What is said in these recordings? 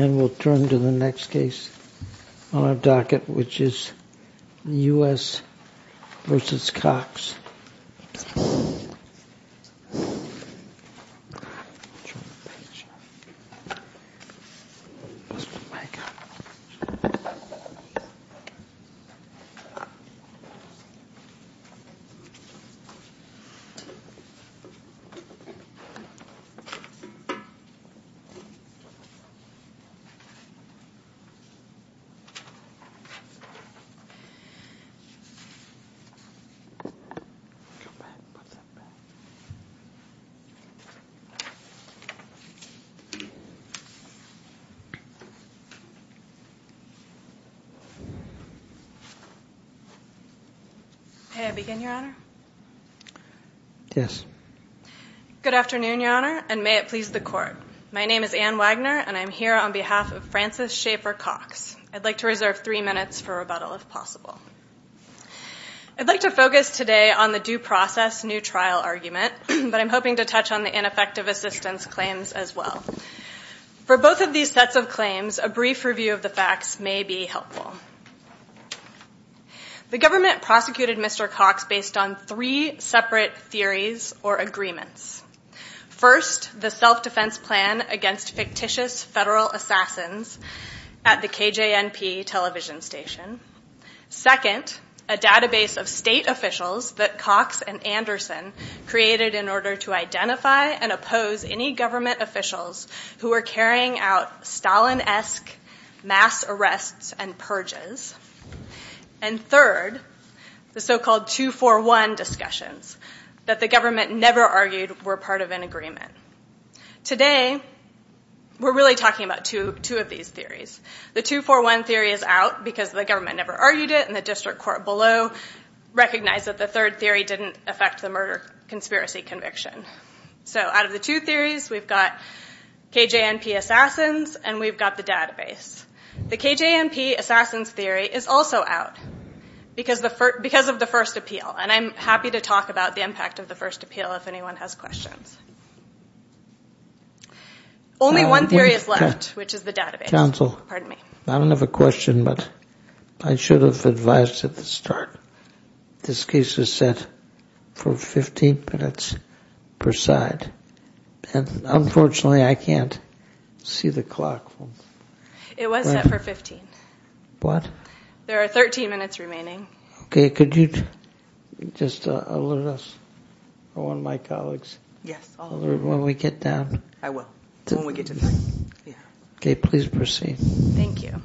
And we'll turn to the next case on our docket, which is U.S. v. Cox. May I begin, Your Honor? Yes. Good afternoon, Your Honor, and may it please the Court. My name is Anne Wagner, and I'm here on behalf of Francis Schaefer Cox. I'd like to reserve three minutes for rebuttal, if possible. I'd like to focus today on the due process new trial argument, but I'm hoping to touch on the ineffective assistance claims as well. For both of these sets of claims, a brief review of the facts may be helpful. The government prosecuted Mr. Cox based on three separate theories or agreements. First, the self-defense plan against fictitious federal assassins at the KJNP television station. Second, a database of state officials that Cox and Anderson created in order to identify and oppose any government officials who were carrying out Stalin-esque mass arrests and purges. And third, the so-called 2-4-1 discussions that the government never argued were part of an agreement. Today, we're really talking about two of these theories. The 2-4-1 theory is out because the government never argued it, and the district court below recognized that the third theory didn't affect the murder conspiracy conviction. So out of the two theories, we've got KJNP assassins and we've got the database. The KJNP assassins theory is also out because of the first appeal, and I'm happy to talk about the impact of the first appeal if anyone has questions. Only one theory is left, which is the database. I don't have a question, but I should have advised at the start this case is set for 15 minutes per side. And unfortunately, I can't see the clock. It was set for 15. What? There are 13 minutes remaining. Okay, could you just alert us or one of my colleagues? Yes, I'll alert you. When we get down. I will. When we get to time. Okay, please proceed. Thank you.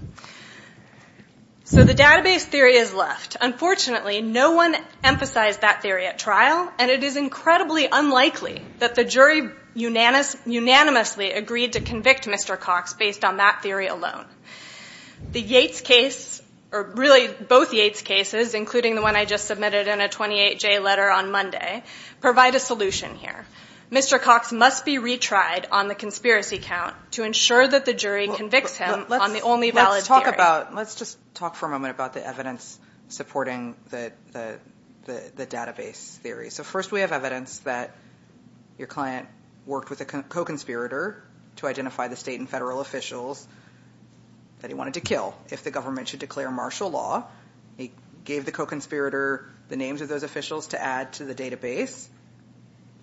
So the database theory is left. Unfortunately, no one emphasized that theory at trial, and it is incredibly unlikely that the jury unanimously agreed to convict Mr. Cox based on that theory alone. The Yates case, or really both Yates cases, including the one I just submitted in a 28-J letter on Monday, provide a solution here. Mr. Cox must be retried on the conspiracy count to ensure that the jury convicts him on the only valid theory. Let's just talk for a moment about the evidence supporting the database theory. So first we have evidence that your client worked with a co-conspirator to identify the state and federal officials that he wanted to kill. If the government should declare martial law, he gave the co-conspirator the names of those officials to add to the database,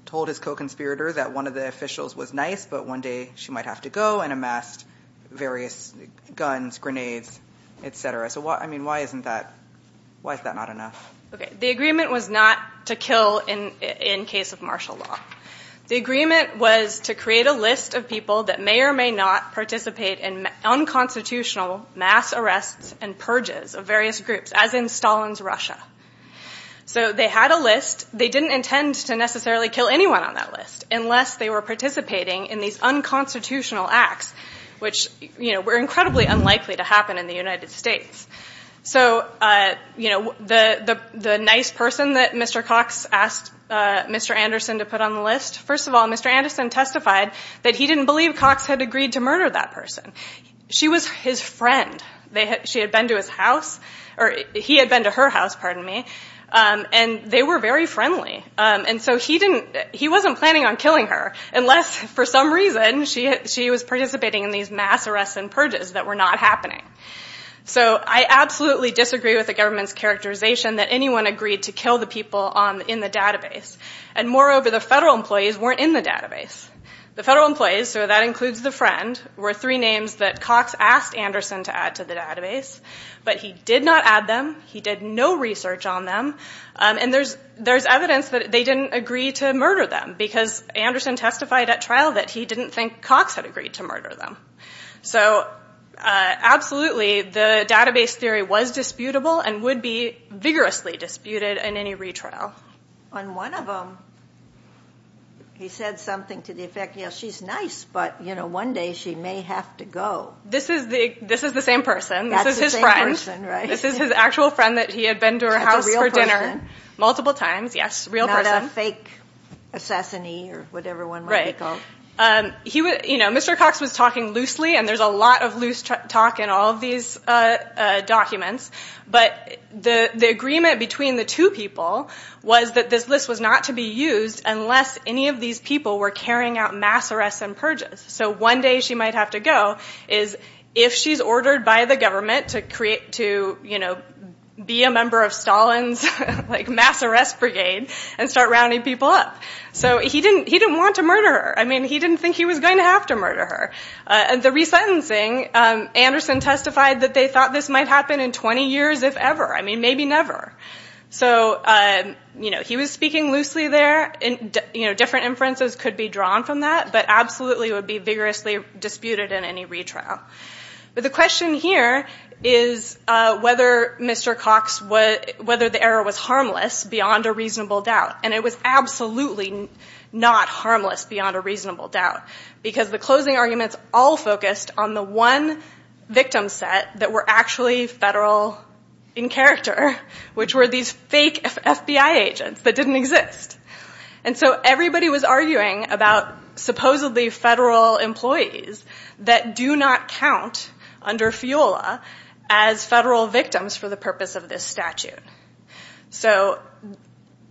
told his co-conspirator that one of the officials was nice, but one day she might have to go, and amassed various guns, grenades, et cetera. So why is that not enough? The agreement was not to kill in case of martial law. The agreement was to create a list of people that may or may not participate in unconstitutional mass arrests and purges of various groups, as in Stalin's Russia. So they had a list. They didn't intend to necessarily kill anyone on that list unless they were participating in these unconstitutional acts, which were incredibly unlikely to happen in the United States. So the nice person that Mr. Cox asked Mr. Anderson to put on the list, first of all, Mr. Anderson testified that he didn't believe Cox had agreed to murder that person. She was his friend. She had been to his house, or he had been to her house, pardon me, and they were very friendly. And so he wasn't planning on killing her unless, for some reason, she was participating in these mass arrests and purges that were not happening. So I absolutely disagree with the government's characterization that anyone agreed to kill the people in the database. And moreover, the federal employees weren't in the database. The federal employees, so that includes the friend, were three names that Cox asked Anderson to add to the database. But he did not add them. He did no research on them. And there's evidence that they didn't agree to murder them because Anderson testified at trial that he didn't think Cox had agreed to murder them. So absolutely, the database theory was disputable and would be vigorously disputed in any retrial. Well, on one of them, he said something to the effect, you know, she's nice, but, you know, one day she may have to go. This is the same person. That's the same person, right? This is his friend. This is his actual friend that he had been to her house for dinner. That's a real person? Multiple times, yes, real person. Not a fake assassinee or whatever one might be called. Right. You know, Mr. Cox was talking loosely, and there's a lot of loose talk in all of these documents. But the agreement between the two people was that this list was not to be used unless any of these people were carrying out mass arrests and purges. So one day she might have to go is if she's ordered by the government to, you know, be a member of Stalin's, like, mass arrest brigade and start rounding people up. So he didn't want to murder her. I mean, he didn't think he was going to have to murder her. The resentencing, Anderson testified that they thought this might happen in 20 years if ever. I mean, maybe never. So, you know, he was speaking loosely there. You know, different inferences could be drawn from that, but absolutely it would be vigorously disputed in any retrial. But the question here is whether Mr. Cox, whether the error was harmless beyond a reasonable doubt. And it was absolutely not harmless beyond a reasonable doubt. Because the closing arguments all focused on the one victim set that were actually federal in character, which were these fake FBI agents that didn't exist. And so everybody was arguing about supposedly federal employees that do not count under FIOLA as federal victims for the purpose of this statute. So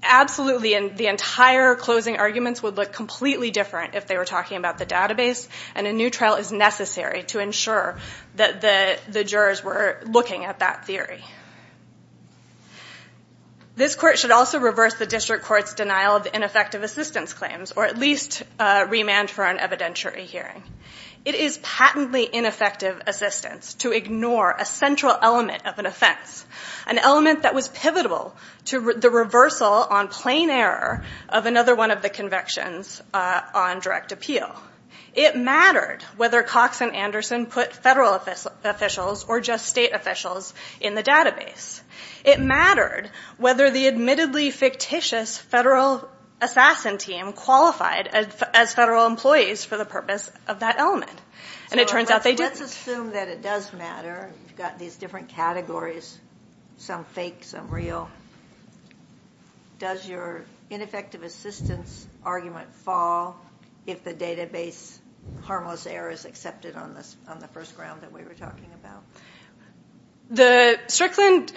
absolutely the entire closing arguments would look completely different if they were talking about the database. And a new trial is necessary to ensure that the jurors were looking at that theory. This court should also reverse the district court's denial of ineffective assistance claims, or at least remand for an evidentiary hearing. It is patently ineffective assistance to ignore a central element of an offense, an element that was pivotal to the reversal on plain error of another one of the convictions on direct appeal. It mattered whether Cox and Anderson put federal officials or just state officials in the database. It mattered whether the admittedly fictitious federal assassin team qualified as federal employees for the purpose of that element. And it turns out they didn't. Let's assume that it does matter. You've got these different categories, some fake, some real. Does your ineffective assistance argument fall if the database harmless error is accepted on the first ground that we were talking about? The Strickland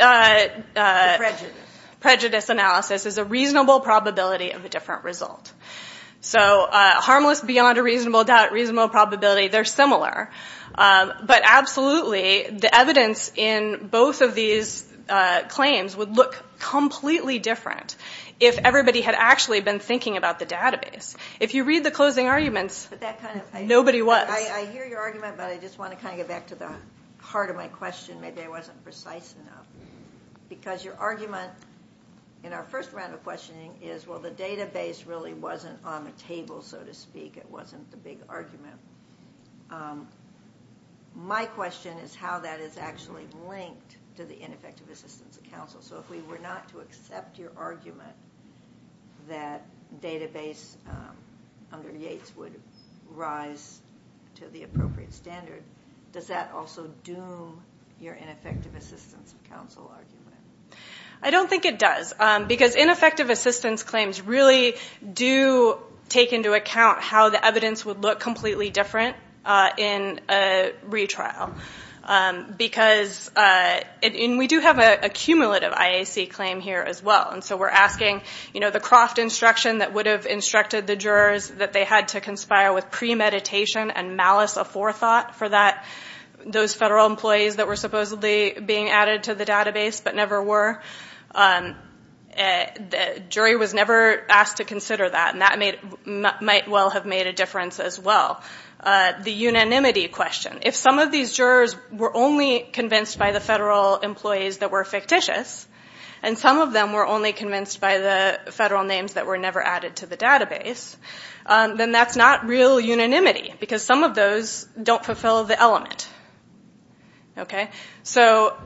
prejudice analysis is a reasonable probability of a different result. So harmless beyond a reasonable doubt, reasonable probability, they're similar. But absolutely the evidence in both of these claims would look completely different if everybody had actually been thinking about the database. If you read the closing arguments, nobody was. I hear your argument, but I just want to kind of get back to the heart of my question. Maybe I wasn't precise enough. Because your argument in our first round of questioning is, well, the database really wasn't on the table, so to speak. It wasn't the big argument. My question is how that is actually linked to the ineffective assistance of counsel. So if we were not to accept your argument that database under Yates would rise to the appropriate standard, does that also doom your ineffective assistance of counsel argument? I don't think it does. Because ineffective assistance claims really do take into account how the evidence would look completely different in a retrial. We do have a cumulative IAC claim here as well. So we're asking the Croft instruction that would have instructed the jurors that they had to conspire with premeditation and malice aforethought for those federal employees that were supposedly being added to the database but never were. The jury was never asked to consider that, and that might well have made a difference as well. The unanimity question. If some of these jurors were only convinced by the federal employees that were fictitious, and some of them were only convinced by the federal names that were never added to the database, then that's not real unanimity, because some of those don't fulfill the element. So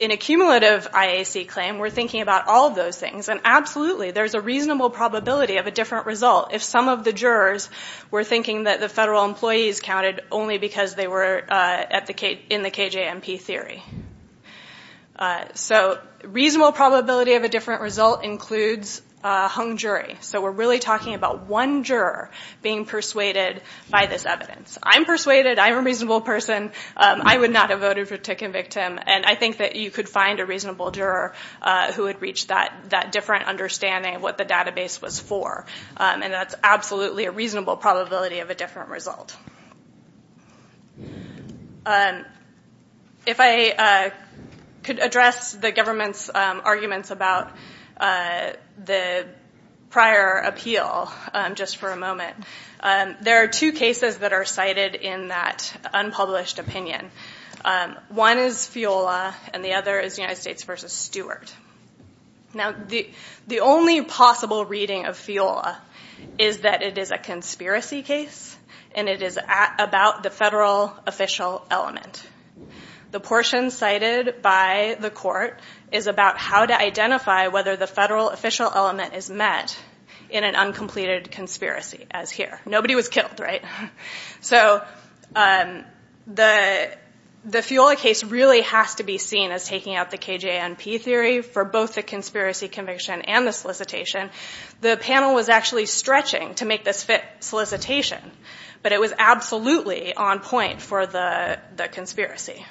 in a cumulative IAC claim, we're thinking about all those things. And absolutely, there's a reasonable probability of a different result. If some of the jurors were thinking that the federal employees counted only because they were in the KJMP theory. So reasonable probability of a different result includes a hung jury. So we're really talking about one juror being persuaded by this evidence. I'm persuaded. I'm a reasonable person. I would not have voted to convict him. And I think that you could find a reasonable juror who would reach that different understanding of what the database was for. And that's absolutely a reasonable probability of a different result. If I could address the government's arguments about the prior appeal just for a moment. There are two cases that are cited in that unpublished opinion. One is FIOLA, and the other is United States v. Stewart. Now, the only possible reading of FIOLA is that it is a conspiracy case, and it is about the federal official element. The portion cited by the court is about how to identify whether the federal official element is met in an uncompleted conspiracy, as here. Nobody was killed, right? So the FIOLA case really has to be seen as taking out the KJNP theory for both the conspiracy conviction and the solicitation. The panel was actually stretching to make this fit solicitation, but it was absolutely on point for the conspiracy.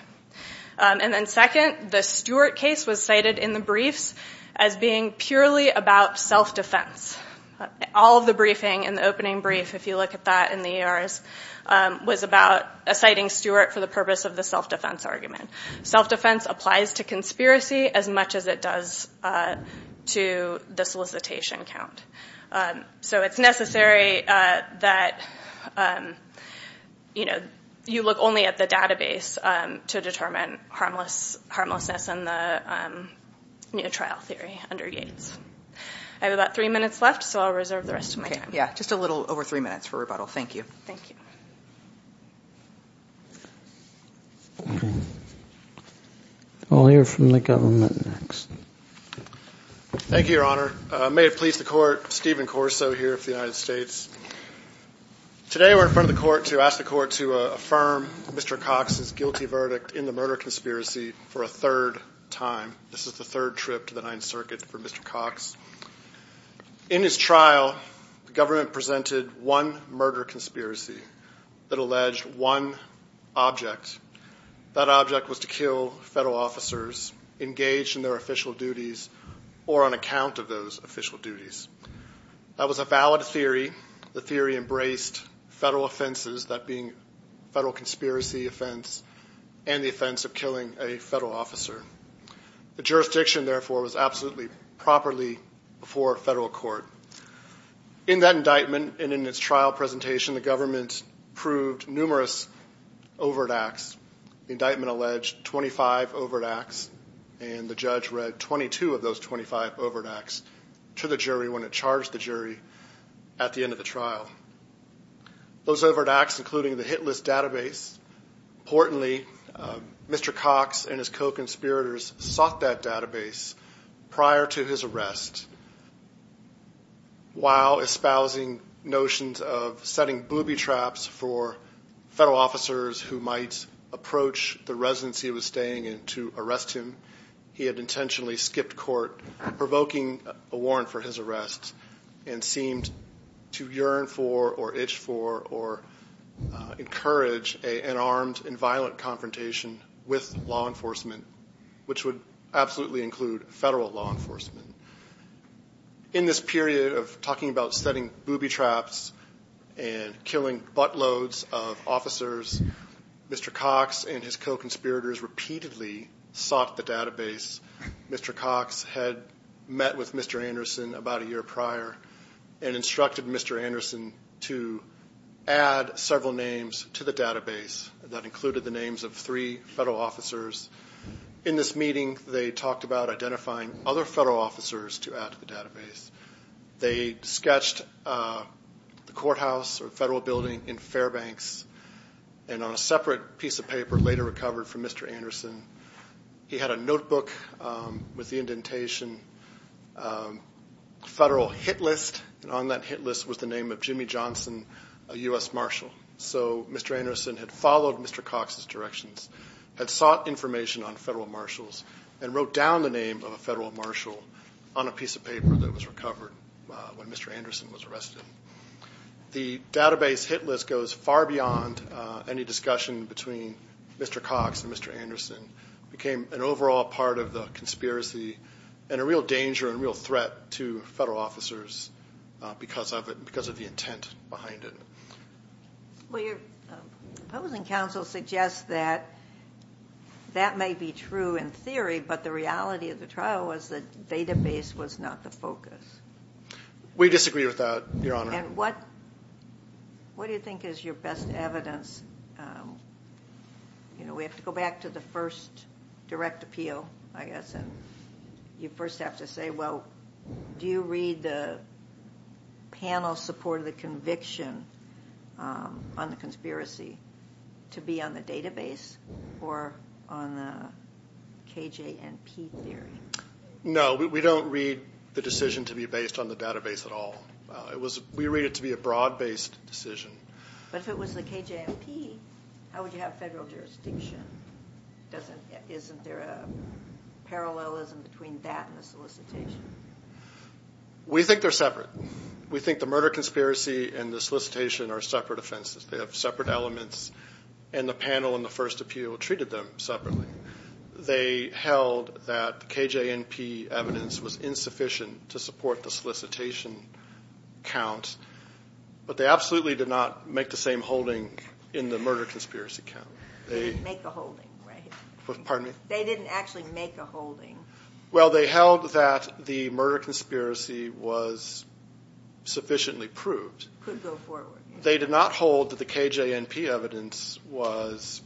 And then second, the Stewart case was cited in the briefs as being purely about self-defense. All of the briefing in the opening brief, if you look at that in the ERs, was about citing Stewart for the purpose of the self-defense argument. Self-defense applies to conspiracy as much as it does to the solicitation count. So it's necessary that you look only at the database to determine harmlessness in the trial theory under Gates. I have about three minutes left, so I'll reserve the rest of my time. Yeah, just a little over three minutes for rebuttal. Thank you. Thank you. I'll hear from the government next. Thank you, Your Honor. May it please the Court, Stephen Corso here of the United States. Today we're in front of the Court to ask the Court to affirm Mr. Cox's guilty verdict in the murder conspiracy for a third time. This is the third trip to the Ninth Circuit for Mr. Cox. In his trial, the government presented one murder conspiracy that alleged one object. That object was to kill federal officers engaged in their official duties or on account of those official duties. That was a valid theory. The theory embraced federal offenses, that being federal conspiracy offense and the offense of killing a federal officer. The jurisdiction, therefore, was absolutely properly before a federal court. In that indictment and in its trial presentation, the government proved numerous overt acts. The indictment alleged 25 overt acts, and the judge read 22 of those 25 overt acts to the jury when it charged the jury at the end of the trial. Those overt acts, including the hit list database, importantly, Mr. Cox and his co-conspirators sought that database prior to his arrest, while espousing notions of setting booby traps for federal officers who might approach the residence he was staying in to arrest him. He had intentionally skipped court, provoking a warrant for his arrest and seemed to yearn for or itch for or encourage an armed and violent confrontation with law enforcement, which would absolutely include federal law enforcement. In this period of talking about setting booby traps and killing butt loads of officers, Mr. Cox and his co-conspirators repeatedly sought the database. Mr. Cox had met with Mr. Anderson about a year prior and instructed Mr. Anderson to add several names to the database that included the names of three federal officers. In this meeting, they talked about identifying other federal officers to add to the database. They sketched the courthouse or federal building in Fairbanks, and on a separate piece of paper later recovered from Mr. Anderson, he had a notebook with the indentation Federal Hit List, and on that hit list was the name of Jimmy Johnson, a U.S. Marshal. So Mr. Anderson had followed Mr. Cox's directions, had sought information on federal marshals, and wrote down the name of a federal marshal on a piece of paper that was recovered when Mr. Anderson was arrested. The database hit list goes far beyond any discussion between Mr. Cox and Mr. Anderson. It became an overall part of the conspiracy and a real danger and a real threat to federal officers because of the intent behind it. Well, your opposing counsel suggests that that may be true in theory, but the reality of the trial was that the database was not the focus. We disagree with that, Your Honor. And what do you think is your best evidence? You know, we have to go back to the first direct appeal, I guess, and you first have to say, well, do you read the panel support of the conviction on the conspiracy to be on the database or on the KJ&P theory? No, we don't read the decision to be based on the database at all. We read it to be a broad-based decision. But if it was the KJ&P, how would you have federal jurisdiction? Isn't there a parallelism between that and the solicitation? We think they're separate. We think the murder conspiracy and the solicitation are separate offenses. They have separate elements, and the panel in the first appeal treated them separately. They held that the KJ&P evidence was insufficient to support the solicitation count, but they absolutely did not make the same holding in the murder conspiracy count. They didn't make the holding, right? Pardon me? They didn't actually make the holding. Well, they held that the murder conspiracy was sufficiently proved. Could go forward. They did not hold that the KJ&P evidence was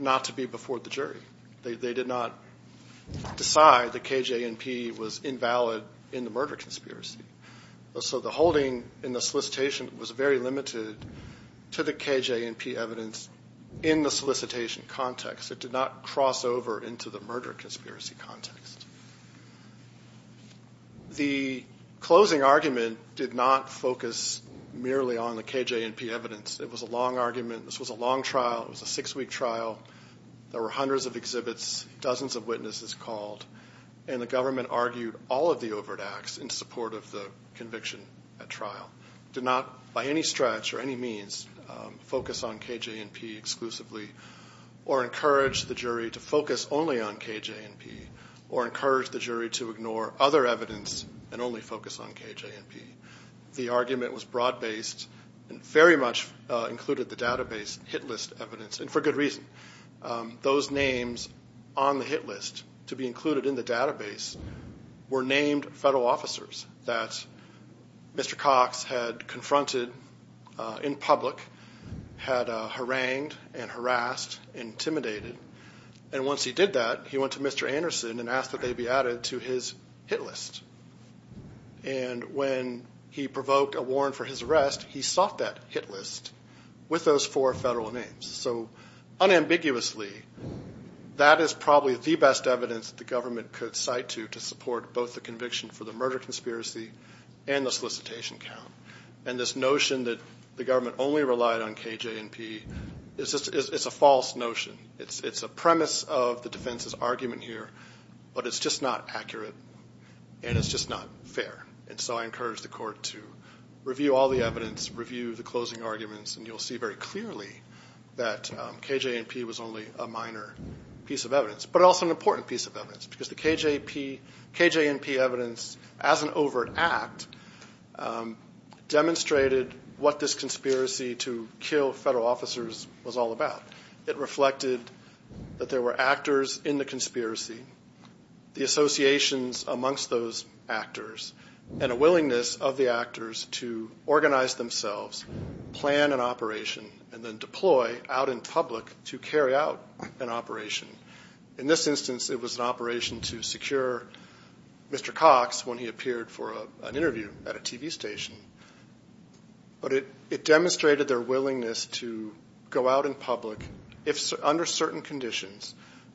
not to be before the jury. They did not decide that KJ&P was invalid in the murder conspiracy. So the holding in the solicitation was very limited to the KJ&P evidence in the solicitation context. It did not cross over into the murder conspiracy context. The closing argument did not focus merely on the KJ&P evidence. It was a long argument. This was a long trial. It was a six-week trial. There were hundreds of exhibits, dozens of witnesses called, and the government argued all of the overt acts in support of the conviction at trial. It did not, by any stretch or any means, focus on KJ&P exclusively or encourage the jury to focus only on KJ&P or encourage the jury to ignore other evidence and only focus on KJ&P. The argument was broad-based and very much included the database hit list evidence, and for good reason. Those names on the hit list to be included in the database were named federal officers that Mr. Cox had confronted in public, had harangued and harassed and intimidated. And once he did that, he went to Mr. Anderson and asked that they be added to his hit list. And when he provoked a warrant for his arrest, he sought that hit list with those four federal names. So unambiguously, that is probably the best evidence that the government could cite to to support both the conviction for the murder conspiracy and the solicitation count. And this notion that the government only relied on KJ&P is a false notion. It's a premise of the defense's argument here, but it's just not accurate and it's just not fair. And so I encourage the court to review all the evidence, review the closing arguments, and you'll see very clearly that KJ&P was only a minor piece of evidence, but also an important piece of evidence because the KJ&P evidence, as an overt act, demonstrated what this conspiracy to kill federal officers was all about. It reflected that there were actors in the conspiracy, the associations amongst those actors, and a willingness of the actors to organize themselves, plan an operation, and then deploy out in public to carry out an operation. In this instance, it was an operation to secure Mr. Cox when he appeared for an interview at a TV station. But it demonstrated their willingness to go out in public under certain conditions,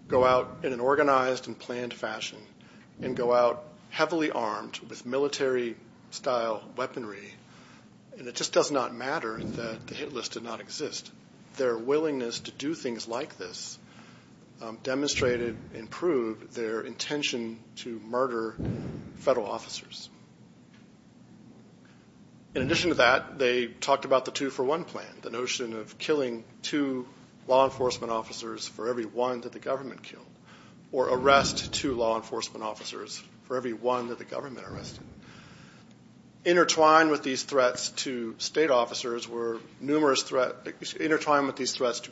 go out in an organized and planned fashion, and go out heavily armed with military-style weaponry. And it just does not matter that the Hit List did not exist. Their willingness to do things like this demonstrated and proved their intention to murder federal officers. In addition to that, they talked about the two-for-one plan, the notion of killing two law enforcement officers for every one that the government killed, or arrest two law enforcement officers for every one that the government arrested. Intertwined with these threats to federal officers, there were numerous threats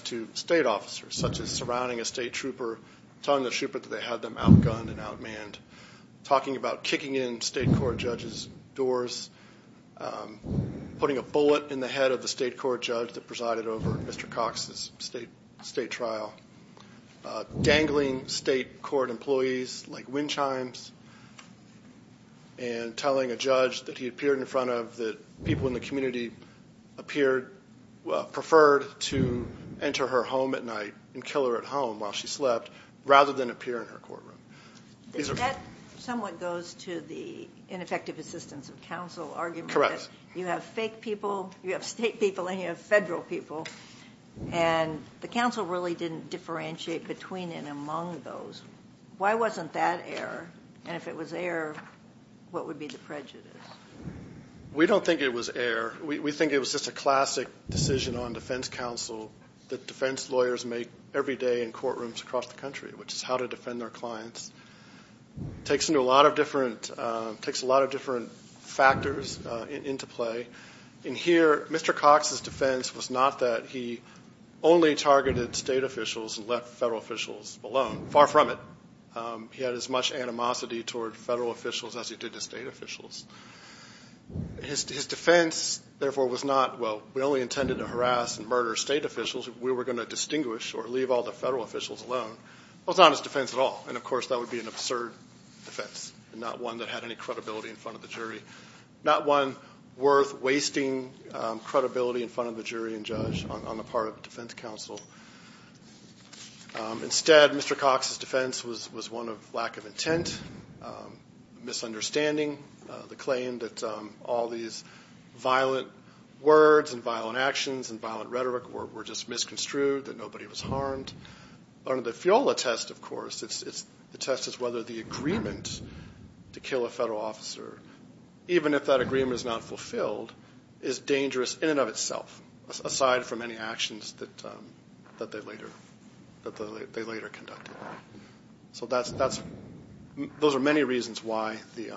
to state officers, such as surrounding a state trooper, telling the trooper that they had them outgunned and outmanned, talking about kicking in state court judges' doors, putting a bullet in the head of the state court judge that presided over Mr. Cox's state trial, dangling state court employees like wind chimes, and telling a judge that he appeared in front of, that people in the community preferred to enter her home at night and kill her at home while she slept, rather than appear in her courtroom. This somewhat goes to the ineffective assistance of counsel argument. You have fake people, you have state people, and you have federal people. And the counsel really didn't differentiate between and among those. Why wasn't that air? And if it was air, what would be the prejudice? We don't think it was air. We think it was just a classic decision on defense counsel that defense lawyers make every day in courtrooms across the country, which is how to defend their clients. It takes a lot of different factors into play. In here, Mr. Cox's defense was not that he only targeted state officials and left federal officials alone. Far from it. He had as much animosity toward federal officials as he did to state officials. His defense, therefore, was not, well, we only intended to harass and murder state officials. We were going to distinguish or leave all the federal officials alone. That was not his defense at all. And, of course, that would be an absurd defense and not one that had any credibility in front of the jury. Not one worth wasting credibility in front of the jury and judge on the part of defense counsel. Instead, Mr. Cox's defense was one of lack of intent, misunderstanding, the claim that all these violent words and violent actions and violent rhetoric were just misconstrued, that nobody was harmed. Under the FIOLA test, of course, the test is whether the agreement to kill a federal officer, even if that agreement is not fulfilled, is dangerous in and of itself, aside from any actions that they later conducted. So those are many reasons why the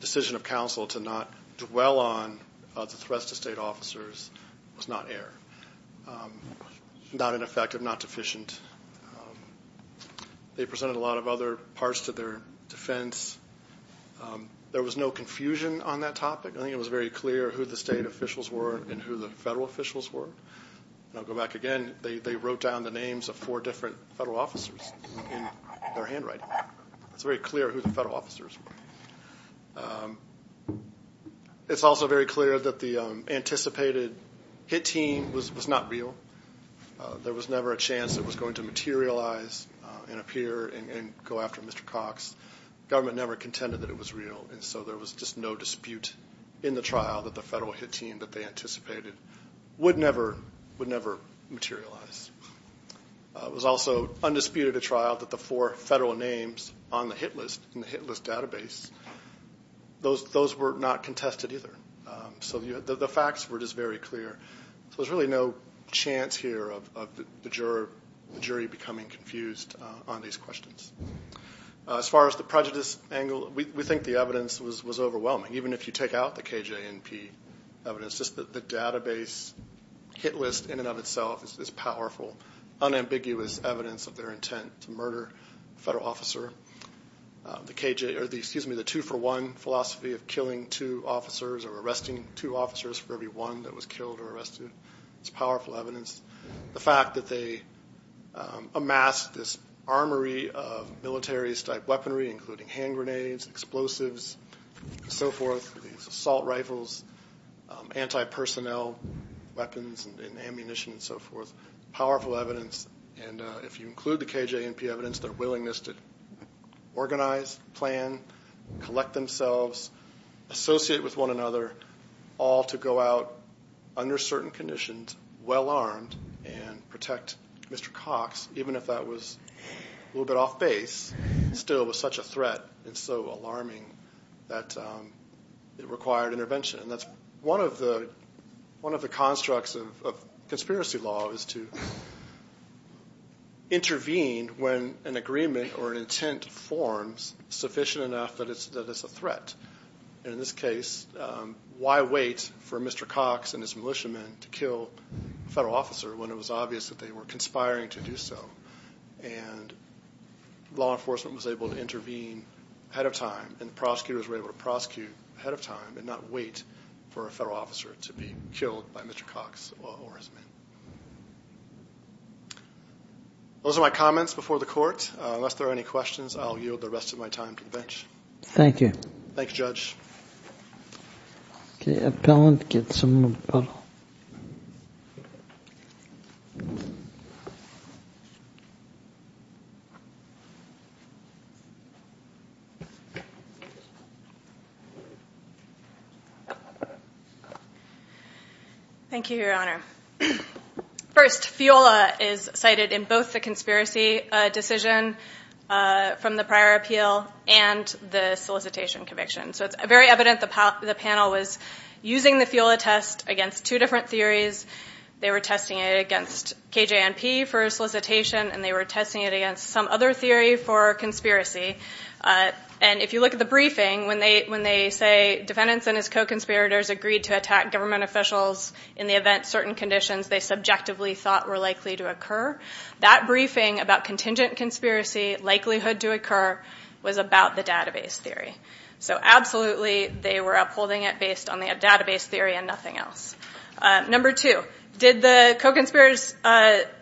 decision of counsel to not dwell on the threats to state officers was not air. Not ineffective, not deficient. They presented a lot of other parts to their defense. There was no confusion on that topic. I think it was very clear who the state officials were and who the federal officials were. And I'll go back again. They wrote down the names of four different federal officers in their handwriting. It's very clear who the federal officers were. It's also very clear that the anticipated hit team was not real. There was never a chance it was going to materialize and appear and go after Mr. Cox. The government never contended that it was real. And so there was just no dispute in the trial that the federal hit team that they anticipated would never materialize. It was also undisputed a trial that the four federal names on the hit list, in the hit list database, those were not contested either. So the facts were just very clear. So there's really no chance here of the jury becoming confused on these questions. As far as the prejudice angle, we think the evidence was overwhelming. Even if you take out the KJNP evidence, just the database hit list in and of itself is powerful, unambiguous evidence of their intent to murder a federal officer. The two-for-one philosophy of killing two officers or arresting two officers for every one that was killed or arrested is powerful evidence. The fact that they amassed this armory of military-type weaponry, including hand grenades, explosives, and so forth, these assault rifles, anti-personnel weapons and ammunition and so forth, powerful evidence. And if you include the KJNP evidence, their willingness to organize, plan, collect themselves, associate with one another, all to go out under certain conditions, well-armed, and protect Mr. Cox, even if that was a little bit off base, still was such a threat and so alarming that it required intervention. One of the constructs of conspiracy law is to intervene when an agreement or an intent forms sufficient enough that it's a threat. In this case, why wait for Mr. Cox and his militiamen to kill a federal officer when it was obvious that they were conspiring to do so? And law enforcement was able to intervene ahead of time and prosecutors were able to prosecute ahead of time and not wait for a federal officer to be killed by Mr. Cox or his men. Those are my comments before the court. Unless there are any questions, I'll yield the rest of my time to the bench. Thank you. Thanks, Judge. Thank you, Your Honor. First, FIOLA is cited in both the conspiracy decision from the prior appeal and the solicitation conviction. So it's very evident the panel was using the FIOLA test against two different theories. They were testing it against KJ&P for solicitation and they were testing it against some other theory for conspiracy. And if you look at the briefing, when they say defendants and his co-conspirators agreed to attack government officials in the event certain conditions they subjectively thought were likely to occur, that briefing about contingent conspiracy likelihood to occur was about the database theory. So absolutely they were upholding it based on the database theory and nothing else. Number two, did the co-conspirators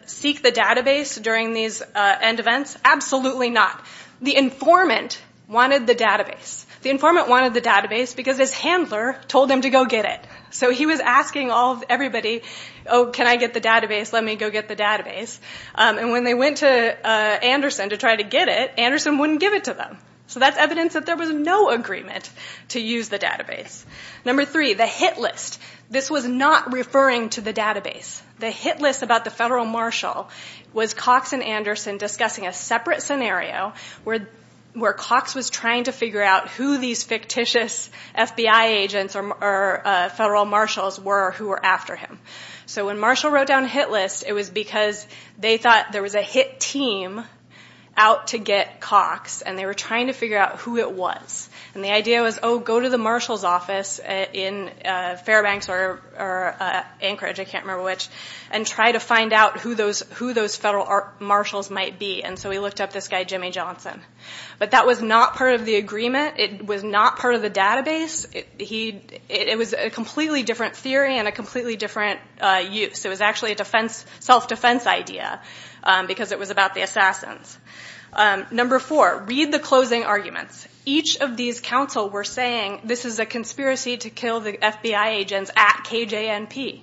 seek the database during these end events? Absolutely not. The informant wanted the database. The informant wanted the database because his handler told him to go get it. So he was asking everybody, oh, can I get the database? Let me go get the database. And when they went to Anderson to try to get it, Anderson wouldn't give it to them. So that's evidence that there was no agreement to use the database. Number three, the hit list. This was not referring to the database. The hit list about the federal marshal was Cox and Anderson discussing a separate scenario where Cox was trying to figure out who these fictitious FBI agents or federal marshals were who were after him. So when Marshall wrote down hit list, it was because they thought there was a hit team out to get Cox and they were trying to figure out who it was. And the idea was, oh, go to the marshal's office in Fairbanks or Anchorage, I can't remember which, and try to find out who those federal marshals might be. And so he looked up this guy, Jimmy Johnson. But that was not part of the agreement. It was not part of the database. It was a completely different theory and a completely different use. It was actually a self-defense idea because it was about the assassins. Number four, read the closing arguments. Each of these counsel were saying this is a conspiracy to kill the FBI agents at KJ&P.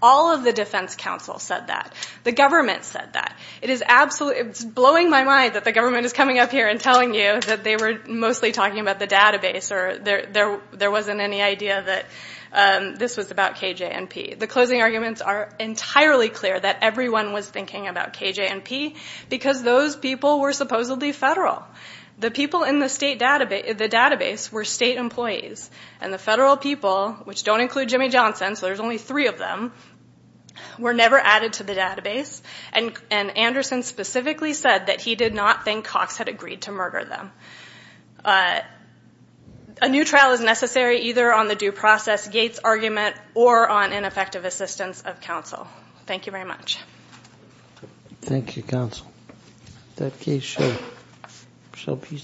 All of the defense counsel said that. The government said that. It is absolutely, it's blowing my mind that the government is coming up here and telling you that they were mostly talking about the database or there wasn't any idea that this was about KJ&P. The closing arguments are entirely clear that everyone was thinking about KJ&P because those people were supposedly federal. The people in the database were state employees. And the federal people, which don't include Jimmy Johnson, so there's only three of them, were never added to the database. And Anderson specifically said that he did not think Cox had agreed to murder them. A new trial is necessary either on the due process, Gates' argument, or on ineffective assistance of counsel. Thank you very much. Thank you, counsel. That case should be submitted.